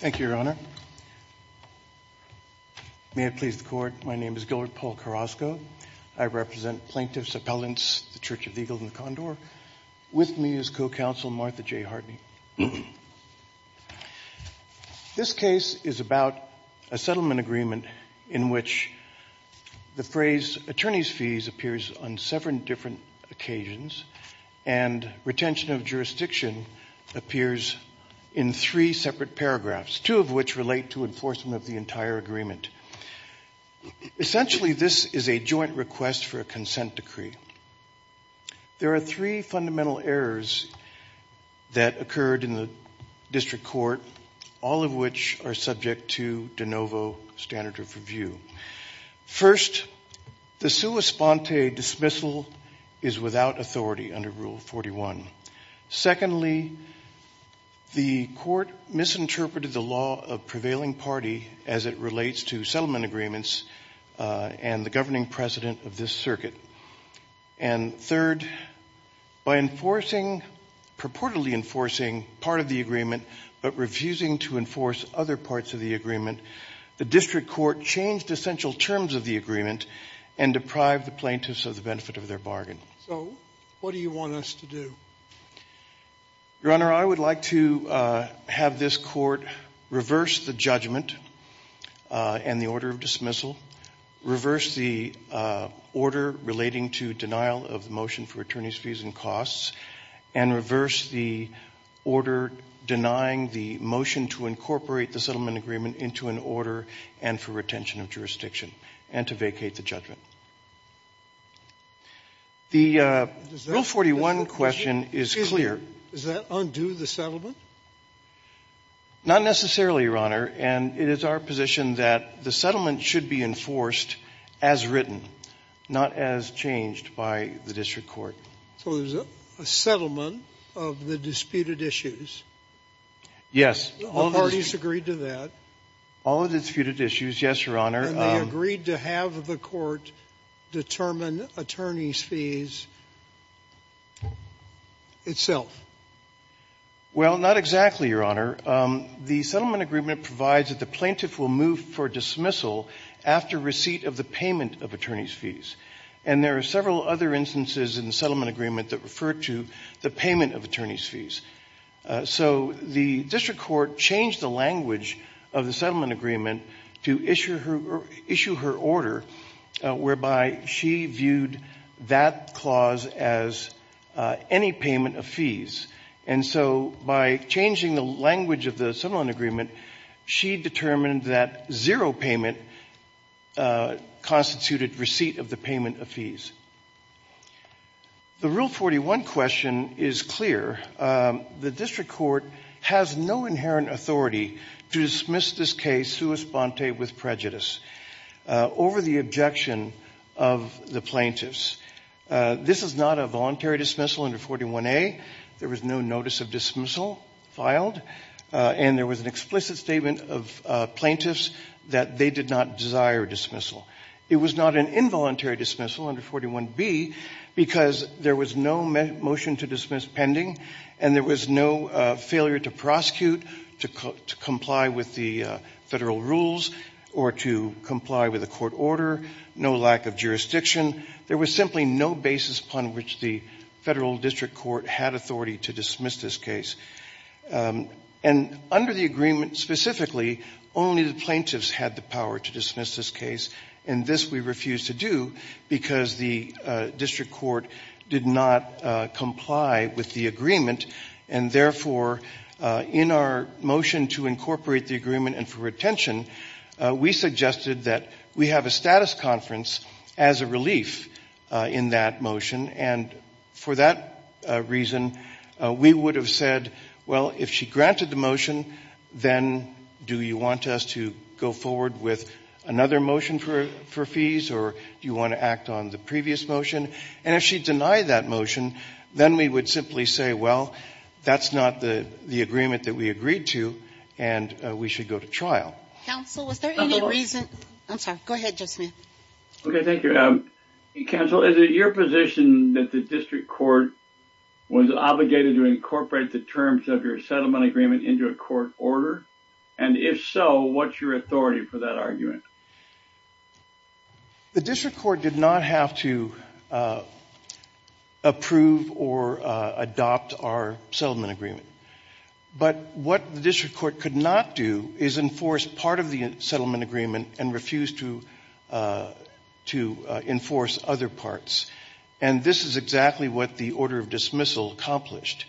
Thank you, Your Honor. May it please the Court, my name is Gilbert Paul Carrasco. I represent plaintiffs, appellants, the Church of the Eagle and the Condor. With me is Co-Counsel Martha J. Hartney. This case is about a settlement agreement in which the phrase attorneys' fees appears on seven different occasions and retention of jurisdiction appears in three separate paragraphs, two of which relate to enforcement of the entire agreement. Essentially, this is a joint request for a consent decree. There are three fundamental errors that occurred in the district court, all of which are subject to de novo standard of review. First, the sua sponte dismissal is without authority under Rule 41. Secondly, the court misinterpreted the law of prevailing party as it relates to settlement agreements and the governing part of the agreement, but refusing to enforce other parts of the agreement. The district court changed essential terms of the agreement and deprived the plaintiffs of the benefit of their bargain. So what do you want us to do? Your Honor, I would like to have this court reverse the judgment and the order of dismissal, reverse the order relating to denial of the motion for attorneys' fees and costs, and reverse the order denying the motion to incorporate the settlement agreement into an order and for retention of jurisdiction and to vacate the judgment. The Rule 41 question is clear. Does that undo the settlement? Not necessarily, Your Honor. And it is our position that the settlement should be enforced as written, not as changed by the district court. So there's a settlement of the disputed issues. Yes. The parties agreed to that. All of the disputed issues, yes, Your Honor. And they agreed to have the court determine attorneys' fees itself. Well, not exactly, Your Honor. The settlement agreement provides that the plaintiff will move for dismissal after receipt of the payment of attorneys' fees. And there are several other instances in the settlement agreement that refer to the payment of attorneys' fees. So the district court changed the language of the settlement agreement to issue her order, whereby she viewed that clause as any payment of fees. And so by changing the language of the settlement agreement, she determined that zero payment constituted receipt of the payment of fees. The Rule 41 question is clear. The district court has no inherent authority to dismiss this case sua sponte with prejudice over the objection of the plaintiffs. This is not a voluntary dismissal under 41A. There was no notice of dismissal filed. And there was an explicit statement of plaintiffs that they did not desire dismissal. It was not an involuntary dismissal under 41B because there was no motion to dismiss pending, and there was no failure to prosecute, to comply with the federal rules, or to comply with a court order, no lack of jurisdiction. There was simply no basis upon which the federal district court had authority to dismiss this case. And under the agreement specifically, only the plaintiffs had the power to dismiss this case. And this we refused to do because the district court did not comply with the agreement. And therefore, in our motion to incorporate the agreement and for retention, we suggested that we have a status conference as a relief in that motion. And for that reason, we would have said, well, if she granted the motion, then do you want us to go forward with another motion for fees, or do you want to act on the previous motion? And if she denied that motion, then we would simply say, well, that's not the agreement that we agreed to, and we should go to trial. Counsel, was there any reason? I'm sorry. Go ahead, Joseph Smith. Okay. Thank you. Counsel, is it your position that the district court was obligated to incorporate the terms of your settlement agreement into a court order? And if so, what's your authority for that argument? The district court did not have to approve or adopt our settlement agreement. But what the district court could not do is enforce part of the settlement agreement and refused to enforce other parts. And this is exactly what the order of dismissal accomplished.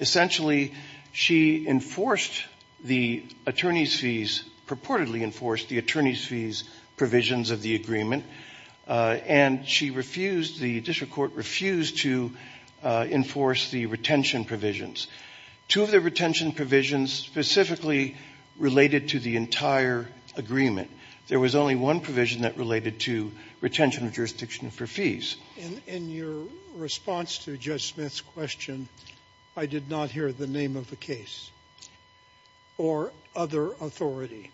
Essentially, she enforced the attorney's fees, purportedly enforced the attorney's fees provisions of the agreement, and she refused, the district court refused to enforce the retention provisions. Two of the retention provisions specifically related to the entire agreement. There was only one provision that related to retention of jurisdiction for fees. In your response to Judge Smith's question, I did not hear the name of the case or other authority.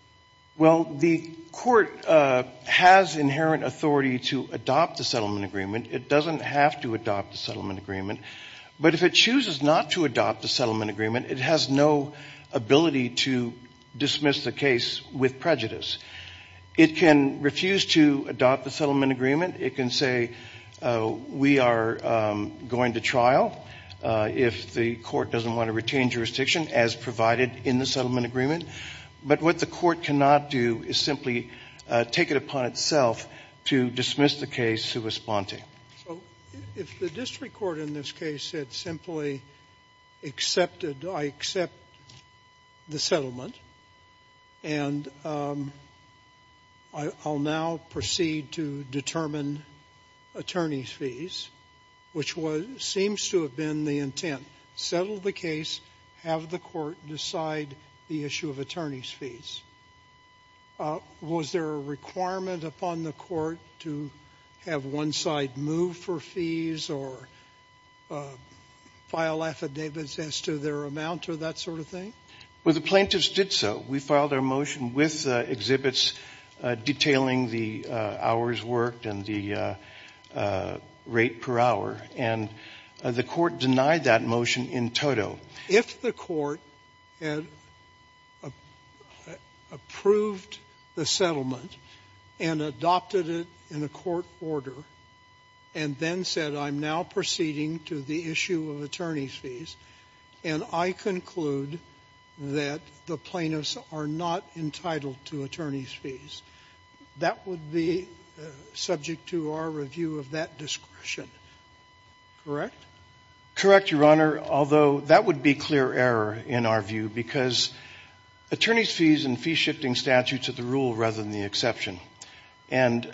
Well, the court has inherent authority to adopt the settlement agreement. It doesn't have to adopt the settlement agreement. But if it chooses not to adopt the settlement agreement, it has no ability to dismiss the case with prejudice. It can refuse to adopt the settlement agreement. It can say, we are going to trial if the court doesn't want to retain jurisdiction as provided in the settlement agreement. But what the court cannot do is simply take it upon itself to dismiss the case sua sponte. So if the district court in this case had simply accepted, I accept the settlement, and I'll now proceed to determine attorney's fees, which seems to have been the intent. Settle the case, have the court decide the issue of attorney's fees. Was there a requirement upon the court to have one side move for fees or file affidavits as to their amount or that sort of thing? Well, the plaintiffs did so. We filed our motion with exhibits detailing the hours worked and the rate per hour. And the court denied that motion in toto. If the court had approved the settlement and adopted it in a court order and then said, I'm now proceeding to the issue of attorney's fees, and I conclude that the plaintiffs are not entitled to attorney's fees, that would be subject to our review of that discretion, correct? Correct, Your Honor, although that would be clear error in our view, because attorney's fees and fee shifting statutes are the rule rather than the exception. And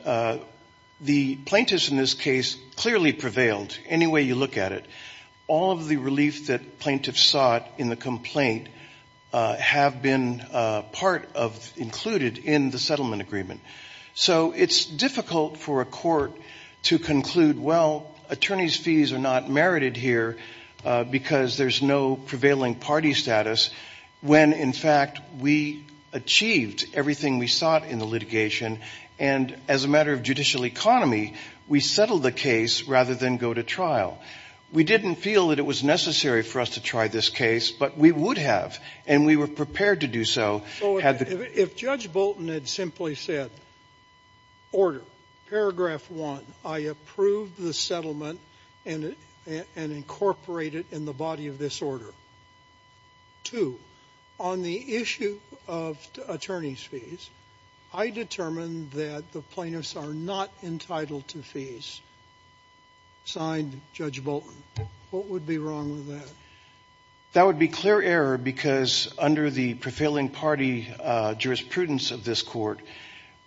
the plaintiffs in this case clearly prevailed, any way you look at it. All of the relief that plaintiffs sought in the complaint have been part of included in the settlement agreement. So it's difficult for a court to conclude, well, attorney's fees are not merited here because there's no prevailing party status, when, in fact, we achieved everything we sought in the litigation, and as a matter of judicial economy, we settled the case rather than go to trial. We didn't feel that it was necessary for us to try this case, but we would have, and we were prepared to do so. So if Judge Bolton had simply said, order, paragraph one, I approve the settlement and incorporate it in the body of this order. Two, on the issue of attorney's fees, I determine that the plaintiffs are not entitled to fees, signed Judge Bolton. What would be wrong with that? That would be clear error because under the prevailing party jurisprudence of this court,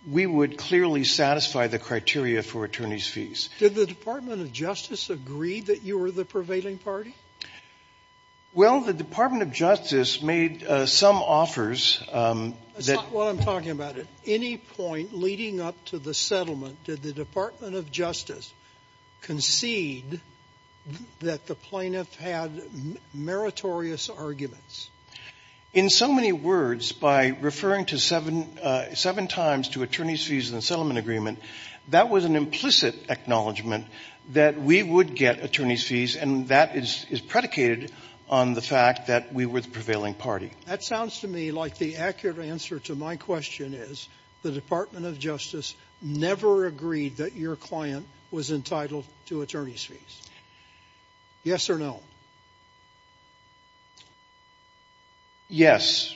we would clearly satisfy the criteria for attorney's fees. Did the Department of Justice agree that you were the prevailing party? Well, the Department of Justice made some offers. That's not what I'm talking about. At any point leading up to the settlement, did the Department of Justice concede that the plaintiff had meritorious arguments? In so many words, by referring to seven times to attorney's fees in the settlement agreement, that was an implicit acknowledgment that we would get attorney's fees, and that is predicated on the fact that we were the prevailing party. That sounds to me like the accurate answer to my question is the Department of Justice never agreed that your client was entitled to attorney's fees. Yes or no? Yes.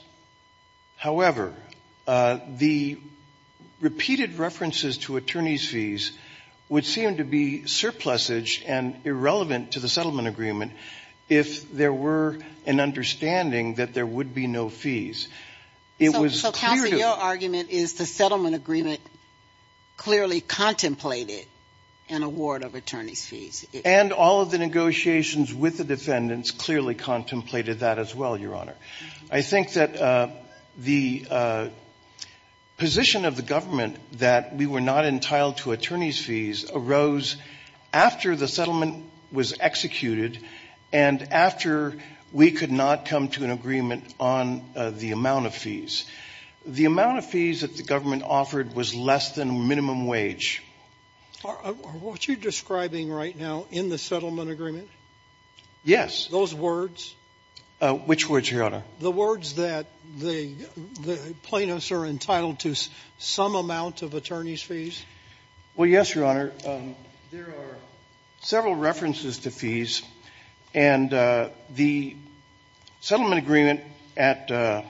However, the repeated references to attorney's fees would seem to be surplusage and irrelevant to the settlement agreement if there were an understanding that there would be no fees. So, Counsel, your argument is the settlement agreement clearly contemplated an award of attorney's fees. And all of the negotiations with the defendants clearly contemplated that as well, Your Honor. I think that the position of the government that we were not entitled to attorney's fees arose after the settlement was executed and after we could not come to an agreement on the amount of fees. The amount of fees that the government offered was less than minimum wage. Are what you're describing right now in the settlement agreement? Yes. Those words? Which words, Your Honor? The words that the plaintiffs are entitled to some amount of attorney's fees? Well, yes, Your Honor. There are several references to fees. And the settlement agreement at the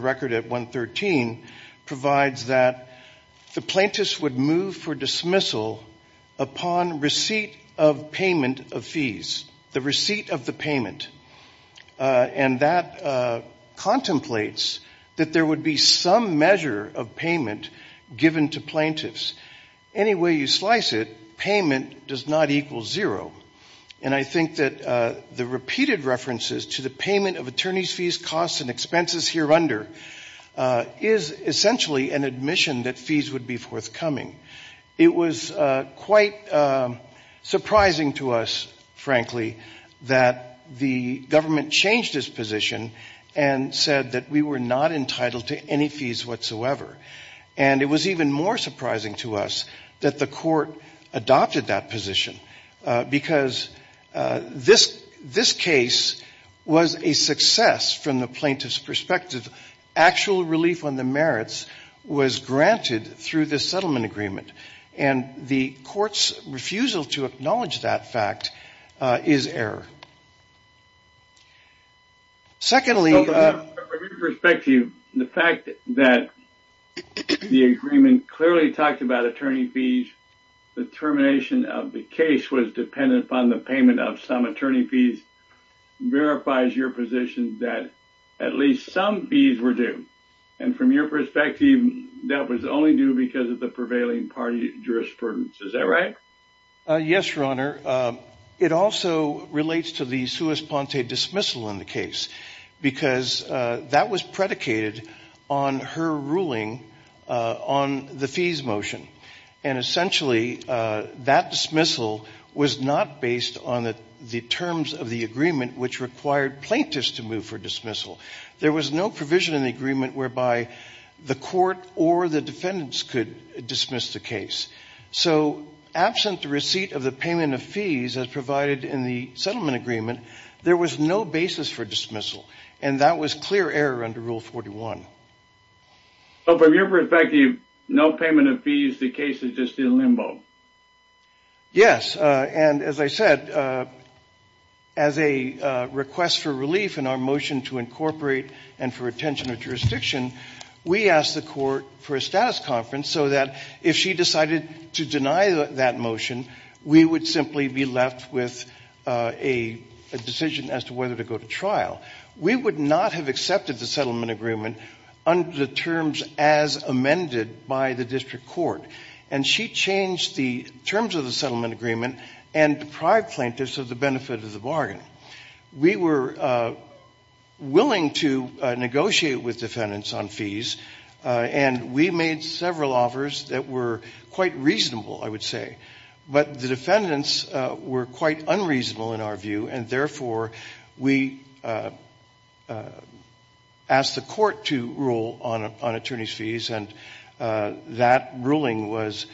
record at 113 provides that the plaintiffs would move for dismissal upon receipt of payment of fees, the receipt of the payment. And that contemplates that there would be some measure of payment given to plaintiffs. Any way you slice it, payment does not equal zero. And I think that the repeated references to the payment of attorney's fees, costs, and expenses here under is essentially an admission that fees would be forthcoming. It was quite surprising to us, frankly, that the government changed its position and said that we were not entitled to any fees whatsoever. And it was even more surprising to us that the court adopted that position. Because this case was a success from the plaintiff's perspective. Actual relief on the merits was granted through this settlement agreement. And the court's refusal to acknowledge that fact is error. Secondly, from your perspective, the fact that the agreement clearly talked about attorney fees, the termination of the case was dependent upon the payment of some attorney fees verifies your position that at least some fees were due. And from your perspective, that was only due because of the prevailing party jurisprudence. Is that right? Yes, Your Honor. It also relates to the suus ponte dismissal in the case. Because that was predicated on her ruling on the fees motion. And essentially, that dismissal was not based on the terms of the agreement which required plaintiffs to move for dismissal. There was no provision in the agreement whereby the court or the defendants could dismiss the case. So absent the receipt of the payment of fees as provided in the settlement agreement, there was no basis for dismissal. And that was clear error under Rule 41. So from your perspective, no payment of fees, the case is just in limbo. Yes, and as I said, as a request for relief in our motion to incorporate and for retention of jurisdiction, we asked the court for a status conference so that if she decided to deny that motion, we would simply be left with a decision as to whether to go to trial. We would not have accepted the settlement agreement under the terms as amended by the district court. And she changed the terms of the settlement agreement and deprived plaintiffs of the benefit of the bargain. We were willing to negotiate with defendants on fees. And we made several offers that were quite reasonable, I would say. But the defendants were quite unreasonable in our view. And therefore, we asked the court to rule on attorney's fees. And that ruling was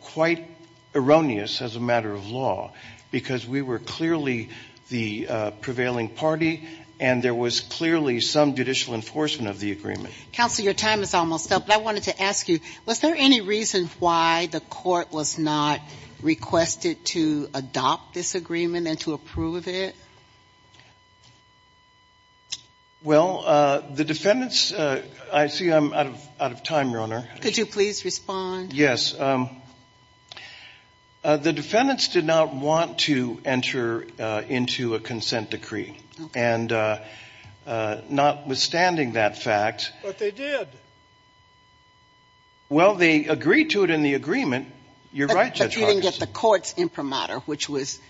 quite erroneous as a matter of law because we were clearly the prevailing party and there was clearly some judicial enforcement of the agreement. Counsel, your time is almost up. But I wanted to ask you, was there any reason why the court was not requested to adopt this agreement and to approve of it? Well, the defendants, I see I'm out of time, Your Honor. Could you please respond? Yes. The defendants did not want to enter into a consent decree. And notwithstanding that fact. But they did. Well, they agreed to it in the agreement. You're right, Judge Hargis. But you didn't get the court's imprimatur, which is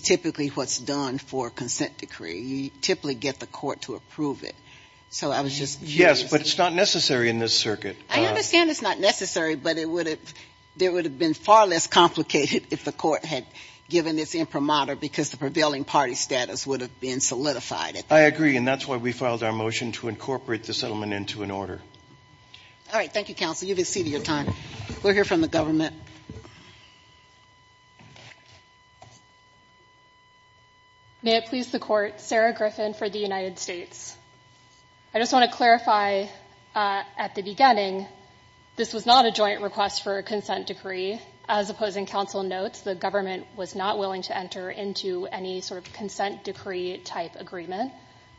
typically what's done for a consent decree. You typically get the court to approve it. So I was just curious. Yes, but it's not necessary in this circuit. I understand it's not necessary, but there would have been far less complicated if the court had given its imprimatur because the prevailing party status would have been solidified. I agree. And that's why we filed our motion to incorporate the settlement into an order. All right. Thank you, Counsel. You've exceeded your time. We'll hear from the government. May it please the Court. Sarah Griffin for the United States. I just want to clarify at the beginning, this was not a joint request for a consent decree. As opposing counsel notes, the government was not willing to enter into any sort of treaty-type agreement.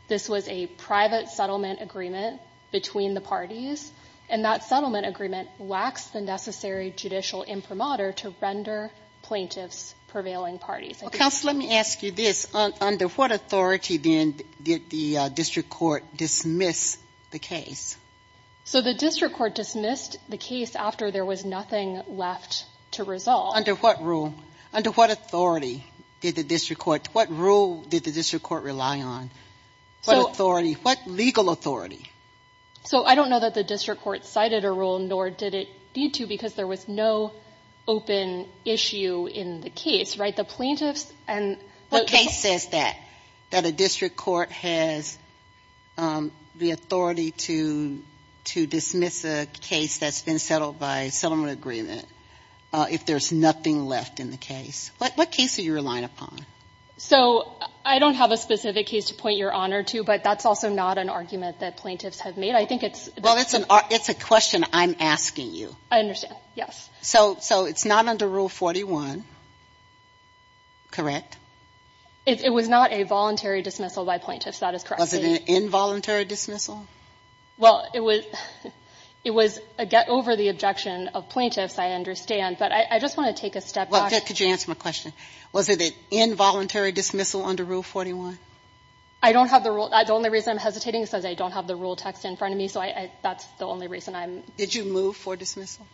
This was a private settlement agreement between the parties, and that settlement agreement lacks the necessary judicial imprimatur to render plaintiffs' prevailing parties. Counsel, let me ask you this. Under what authority, then, did the district court dismiss the case? So the district court dismissed the case after there was nothing left to resolve. Under what rule? Under what authority did the district court? What rule did the district court rely on? What authority? What legal authority? So I don't know that the district court cited a rule, nor did it need to, because there was no open issue in the case, right? The plaintiffs and... What case says that? That a district court has the authority to dismiss a case that's been settled by settlement agreement if there's nothing left in the case? What case are you relying upon? So I don't have a specific case to point your honor to, but that's also not an argument that plaintiffs have made. I think it's... Well, it's a question I'm asking you. I understand. Yes. So it's not under Rule 41, correct? It was not a voluntary dismissal by plaintiffs. That is correct. Was it an involuntary dismissal? Well, it was a get-over-the-objection of plaintiffs, I understand. But I just want to take a step back. Could you answer my question? Was it an involuntary dismissal under Rule 41? I don't have the rule... The only reason I'm hesitating is because I don't have the rule text in front of me, so that's the only reason I'm... Did you move for dismissal?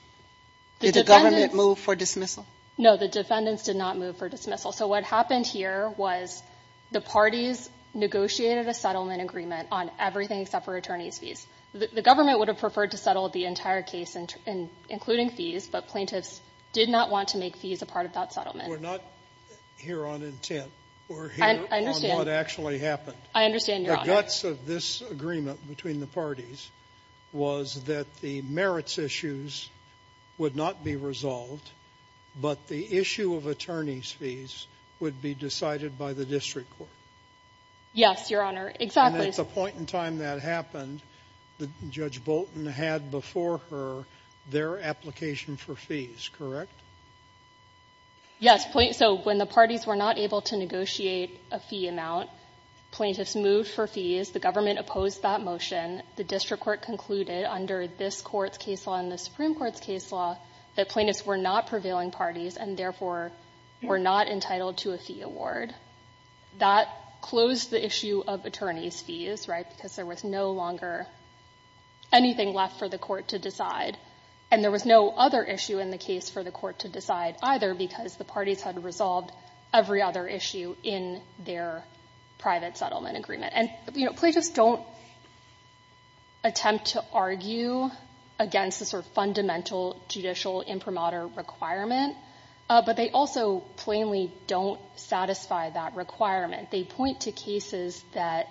Did the government move for dismissal? No, the defendants did not move for dismissal. So what happened here was the parties negotiated a settlement agreement on everything except for attorney's fees. The government would have preferred to settle the entire case, including fees, but plaintiffs did not want to make fees a part of that settlement. We're not here on intent. We're here on what actually happened. I understand, Your Honor. The guts of this agreement between the parties was that the merits issues would not be resolved, but the issue of attorney's fees would be decided by the district court. Yes, Your Honor. Exactly. And at the point in time that happened, Judge Bolton had before her their application for fees, correct? Yes, so when the parties were not able to negotiate a fee amount, plaintiffs moved for fees. The government opposed that motion. The district court concluded under this court's case law and the Supreme Court's case law that plaintiffs were not prevailing parties and therefore were not entitled to a fee award. That closed the issue of attorney's fees, right, because there was no longer anything left for the court to decide, and there was no other issue in the case for the court to decide either because the parties had resolved every other issue in their private settlement agreement. And, you know, plaintiffs don't attempt to argue against the sort of fundamental judicial imprimatur requirement, but they also plainly don't satisfy that requirement. They point to cases that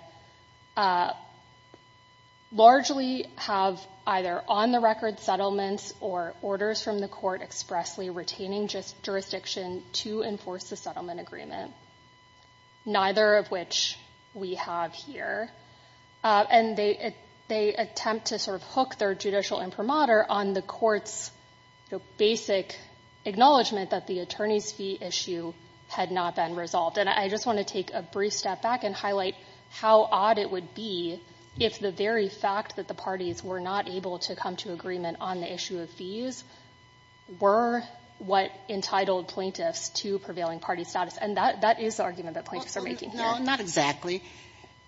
largely have either on-the-record settlements or orders from the court expressly retaining jurisdiction to enforce the settlement agreement, neither of which we have here. And they attempt to sort of hook their judicial imprimatur on the court's basic acknowledgment that the attorney's fee issue had not been resolved. And I just want to take a brief step back and highlight how odd it would be if the very that the parties were not able to come to agreement on the issue of fees were what entitled plaintiffs to prevailing party status. And that is the argument that plaintiffs are making here. No, not exactly.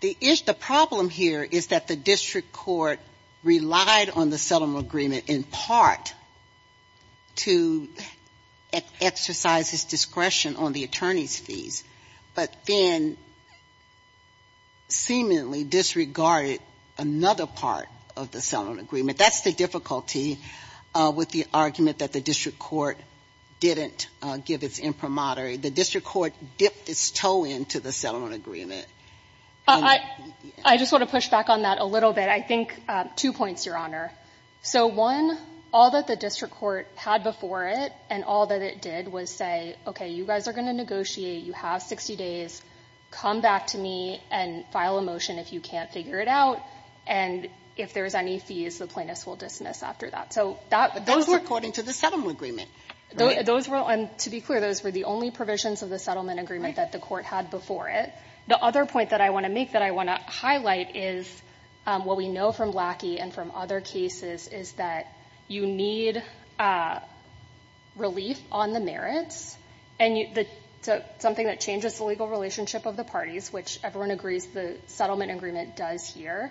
The problem here is that the district court relied on the settlement agreement in part to exercise its discretion on the attorney's fees, but then seemingly disregarded another part of the settlement agreement. That's the difficulty with the argument that the district court didn't give its imprimatur. The district court dipped its toe into the settlement agreement. And I just want to push back on that a little bit. I think two points, Your Honor. So, one, all that the district court had before it and all that it did was say, okay, you guys are going to negotiate. You have 60 days. Come back to me and file a motion if you can't figure it out. And if there's any fees, the plaintiffs will dismiss after that. So, that's according to the settlement agreement. Those were, to be clear, those were the only provisions of the settlement agreement that the court had before it. The other point that I want to make that I want to highlight is what we know from Blackie and from other cases is that you need relief on the merits. And something that changes the legal relationship of the parties, which everyone agrees the settlement agreement does here,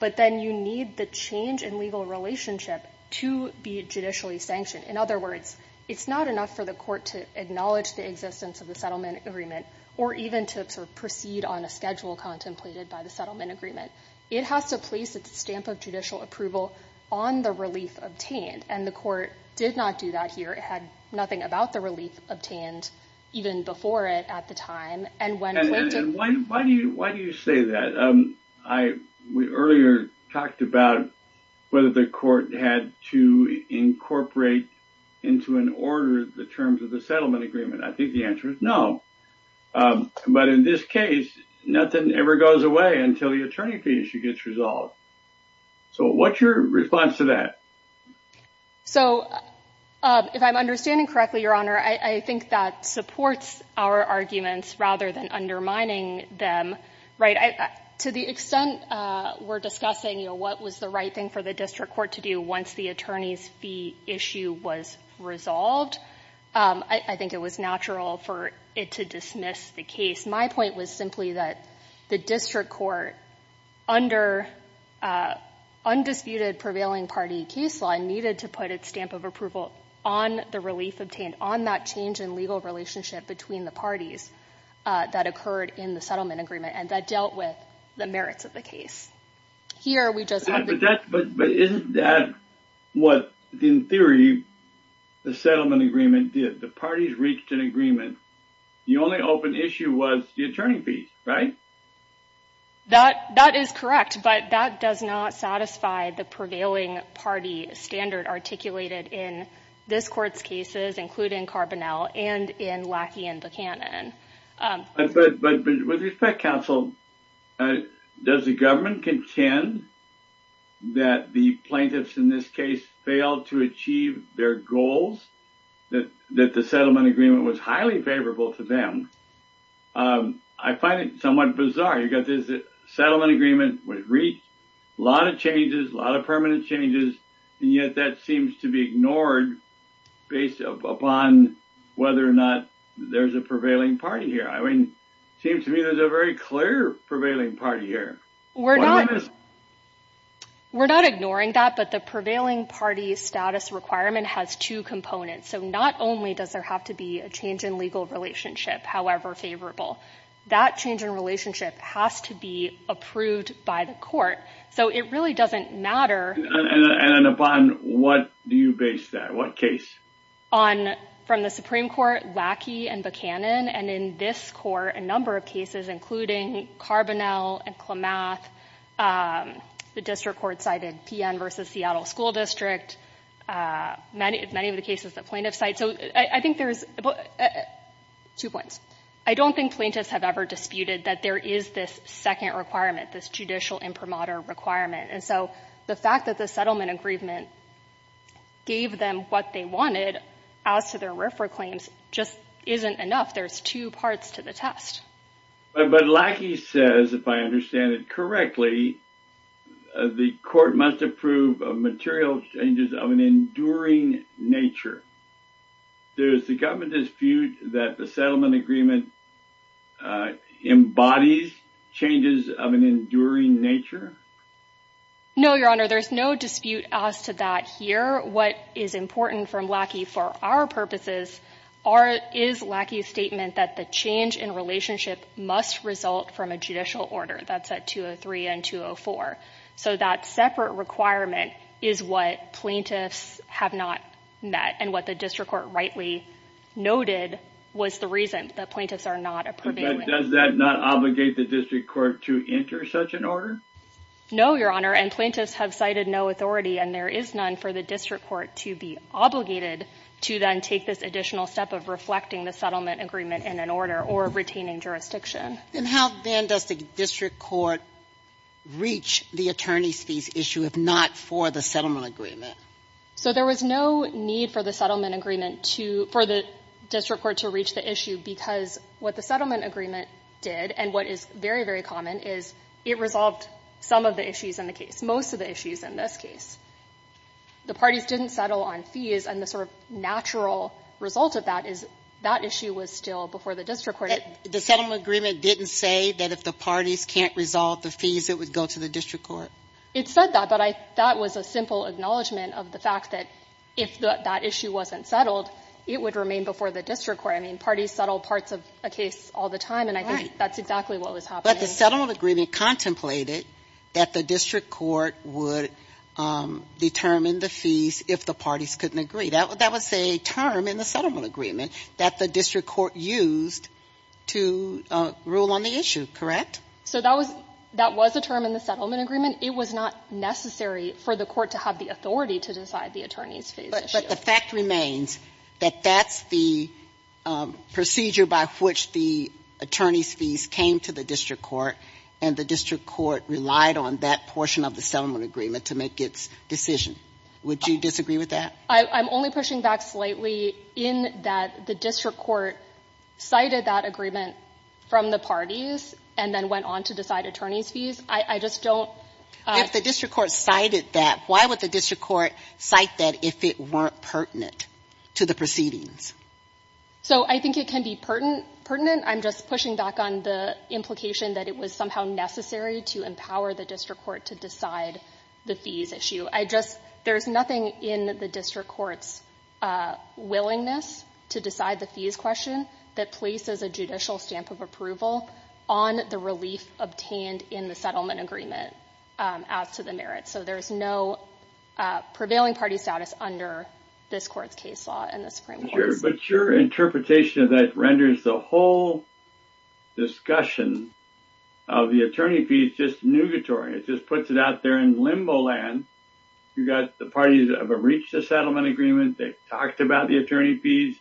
but then you need the change in legal relationship to be judicially sanctioned. In other words, it's not enough for the court to acknowledge the existence of the settlement agreement or even to proceed on a schedule contemplated by the settlement agreement. It has to place its stamp of judicial approval on the relief obtained. And the court did not do that here. It had nothing about the relief obtained even before it at the time. And when plaintiffs- And why do you say that? We earlier talked about whether the court had to incorporate into an order the terms of the settlement agreement. I think the answer is no. But in this case, nothing ever goes away until the attorney fee issue gets resolved. So, what's your response to that? So, if I'm understanding correctly, Your Honor, I think that supports our arguments rather than undermining them. To the extent we're discussing what was the right thing for the district court to do once the attorney's fee issue was resolved, I think it was natural for it to dismiss the case. My point was simply that the district court, under undisputed prevailing party case law, needed to put its stamp of approval on the relief obtained, on that change in legal relationship between the parties that occurred in the settlement agreement and that dealt with the merits of the case. Here, we just- But isn't that what, in theory, the settlement agreement did? The parties reached an agreement. The only open issue was the attorney fee, right? That is correct. But that does not satisfy the prevailing party standard articulated in this court's cases, including Carbonell and in Lackey and Buchanan. But with respect, counsel, does the government contend that the plaintiffs in this case failed to achieve their goals, that the settlement agreement was highly favorable to them? I find it somewhat bizarre. You've got this settlement agreement, which reached a lot of changes, a lot of permanent changes, and yet that seems to be ignored based upon whether or not there's a prevailing party here. I mean, it seems to me there's a very clear prevailing party here. We're not- We're not ignoring that, but the prevailing party status requirement has two components. So not only does there have to be a change in legal relationship, however favorable, that change in relationship has to be approved by the court. So it really doesn't matter- And upon what do you base that? What case? On, from the Supreme Court, Lackey and Buchanan, and in this court, a number of cases, including Carbonell and Klamath. The district court cited PN versus Seattle School District. Many of the cases that plaintiffs cite. So I think there's- Two points. I don't think plaintiffs have ever disputed that there is this second requirement, this judicial imprimatur requirement. And so the fact that the settlement agreement gave them what they wanted as to their RFRA claims just isn't enough. There's two parts to the test. But Lackey says, if I understand it correctly, the court must approve material changes of an enduring nature. Does the government dispute that the settlement agreement embodies changes of an enduring nature? No, Your Honor, there's no dispute as to that here. What is important from Lackey for our purposes is Lackey's statement that the change in relationship must result from a judicial order. That's at 203 and 204. So that separate requirement is what plaintiffs have not met. And what the district court rightly noted was the reason that plaintiffs are not approving. Does that not obligate the district court to enter such an order? No, Your Honor, and plaintiffs have cited no authority. And there is none for the district court to be obligated to then take this additional step of reflecting the settlement agreement in an order or retaining jurisdiction. And how then does the district court reach the attorney's fees issue, if not for the settlement agreement? So there was no need for the settlement agreement to, for the district court to reach the issue. Because what the settlement agreement did and what is very, very common is it resolved some of the issues in the case, most of the issues in this case. The parties didn't settle on fees, and the sort of natural result of that is that issue was still before the district court. The settlement agreement didn't say that if the parties can't resolve the fees, it would go to the district court. It said that, but I thought it was a simple acknowledgment of the fact that if that issue wasn't settled, it would remain before the district court. I mean, parties settle parts of a case all the time, and I think that's exactly what was happening. But the settlement agreement contemplated that the district court would determine the fees if the parties couldn't agree. That was a term in the settlement agreement that the district court used to rule on the issue, correct? So that was a term in the settlement agreement. It was not necessary for the court to have the authority to decide the attorney's fees issue. But the fact remains that that's the procedure by which the attorney's fees came to the district court, and the district court relied on that portion of the settlement agreement to make its decision. Would you disagree with that? I'm only pushing back slightly in that the district court cited that agreement from the parties and then went on to decide attorney's fees. I just don't — If the district court cited that, why would the district court cite that if it weren't pertinent to the proceedings? So I think it can be pertinent. I'm just pushing back on the implication that it was somehow necessary to empower the district court to decide the fees issue. I just — there's nothing in the district court's willingness to decide the fees question that places a judicial stamp of approval on the relief obtained in the settlement agreement as to the merits. So there's no prevailing party status under this court's case law and the Supreme Court's. But your interpretation of that renders the whole discussion of the attorney fees just nugatory. It just puts it out there in limbo land. You've got the parties have reached a settlement agreement. They've talked about the attorney fees.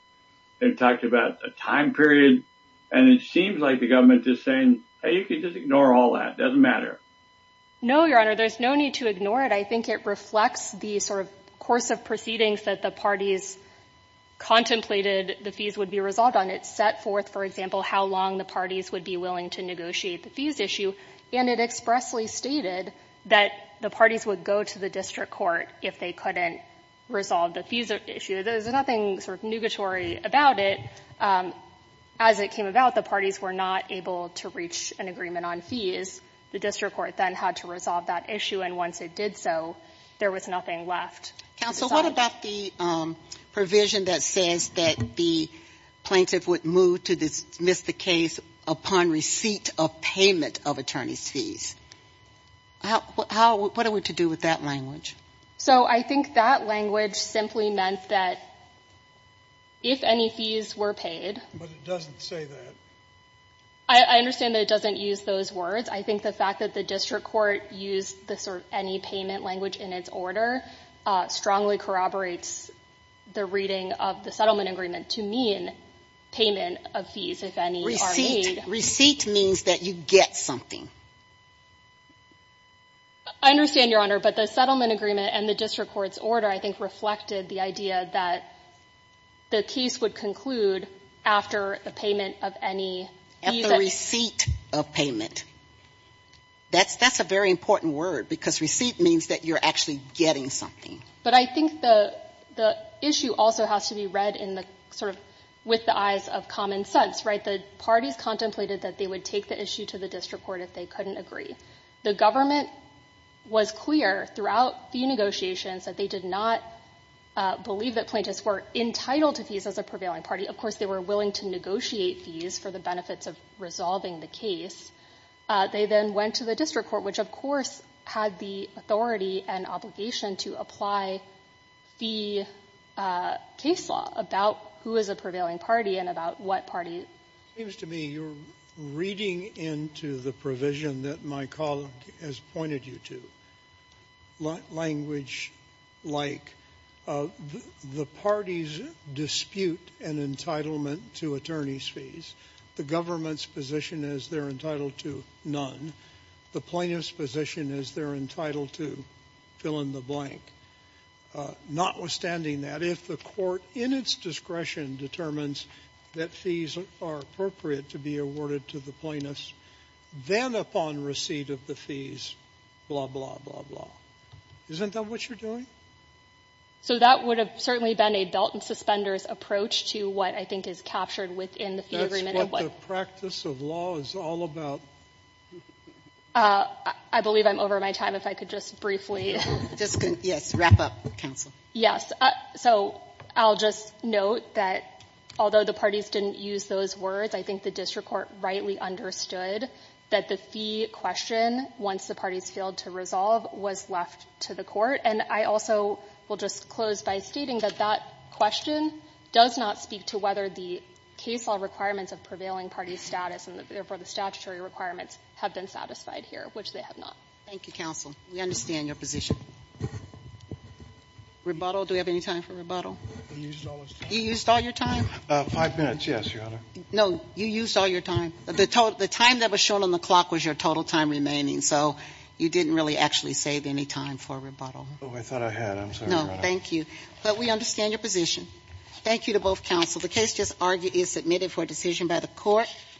They've talked about a time period. And it seems like the government is saying, hey, you can just ignore all that. It doesn't matter. No, Your Honor. There's no need to ignore it. I think it reflects the sort of course of proceedings that the parties contemplated the fees would be resolved on. It set forth, for example, how long the parties would be willing to negotiate the fees issue. And it expressly stated that the parties would go to the district court if they couldn't resolve the fees issue. There's nothing sort of nugatory about it. As it came about, the parties were not able to reach an agreement on fees. The district court then had to resolve that issue. And once it did so, there was nothing left. Counsel, what about the provision that says that the plaintiff would move to dismiss the case upon receipt of payment of attorney's fees? What are we to do with that language? So, I think that language simply meant that if any fees were paid. But it doesn't say that. I understand that it doesn't use those words. I think the fact that the district court used the sort of any payment language in its order strongly corroborates the reading of the settlement agreement to mean payment of fees if any are made. Receipt means that you get something. I understand, Your Honor, but the settlement agreement and the district court's order I think reflected the idea that the case would conclude after the payment of any fees. At the receipt of payment. That's a very important word because receipt means that you're actually getting something. But I think the issue also has to be read in the sort of with the eyes of common sense, right? The parties contemplated that they would take the issue to the district court if they couldn't agree. The government was clear throughout the negotiations that they did not believe that plaintiffs were entitled to fees as a prevailing party. Of course, they were willing to negotiate fees for the benefits of resolving the case. They then went to the district court, which, of course, had the authority and obligation to apply fee case law about who is a prevailing party and about what party. It seems to me you're reading into the provision that my colleague has pointed you to, language like the parties dispute an entitlement to attorney's fees. The government's position is they're entitled to none. The plaintiff's position is they're entitled to fill in the blank. Notwithstanding that, if the court in its discretion determines that fees are appropriate to be awarded to the plaintiffs, then upon receipt of the fees, blah, blah, blah, blah. Isn't that what you're doing? So that would have certainly been a belt and suspenders approach to what I think is captured within the fee agreement. That's what the practice of law is all about. I believe I'm over my time. If I could just briefly. Just, yes, wrap up, counsel. Yes. So I'll just note that although the parties didn't use those words, I think the district court rightly understood that the fee question, once the parties failed to resolve, was left to the court. And I also will just close by stating that that question does not speak to whether the case law requirements of prevailing parties' status and, therefore, the statutory requirements have been satisfied here, which they have not. Thank you, counsel. We understand your position. Rebuttal. Do we have any time for rebuttal? You used all your time? Five minutes, yes, Your Honor. No, you used all your time. The time that was shown on the clock was your total time remaining, so you didn't really actually save any time for rebuttal. Oh, I thought I had. I'm sorry, Your Honor. No, thank you. But we understand your position. Thank you to both counsel. The case just argued is submitted for decision by the court.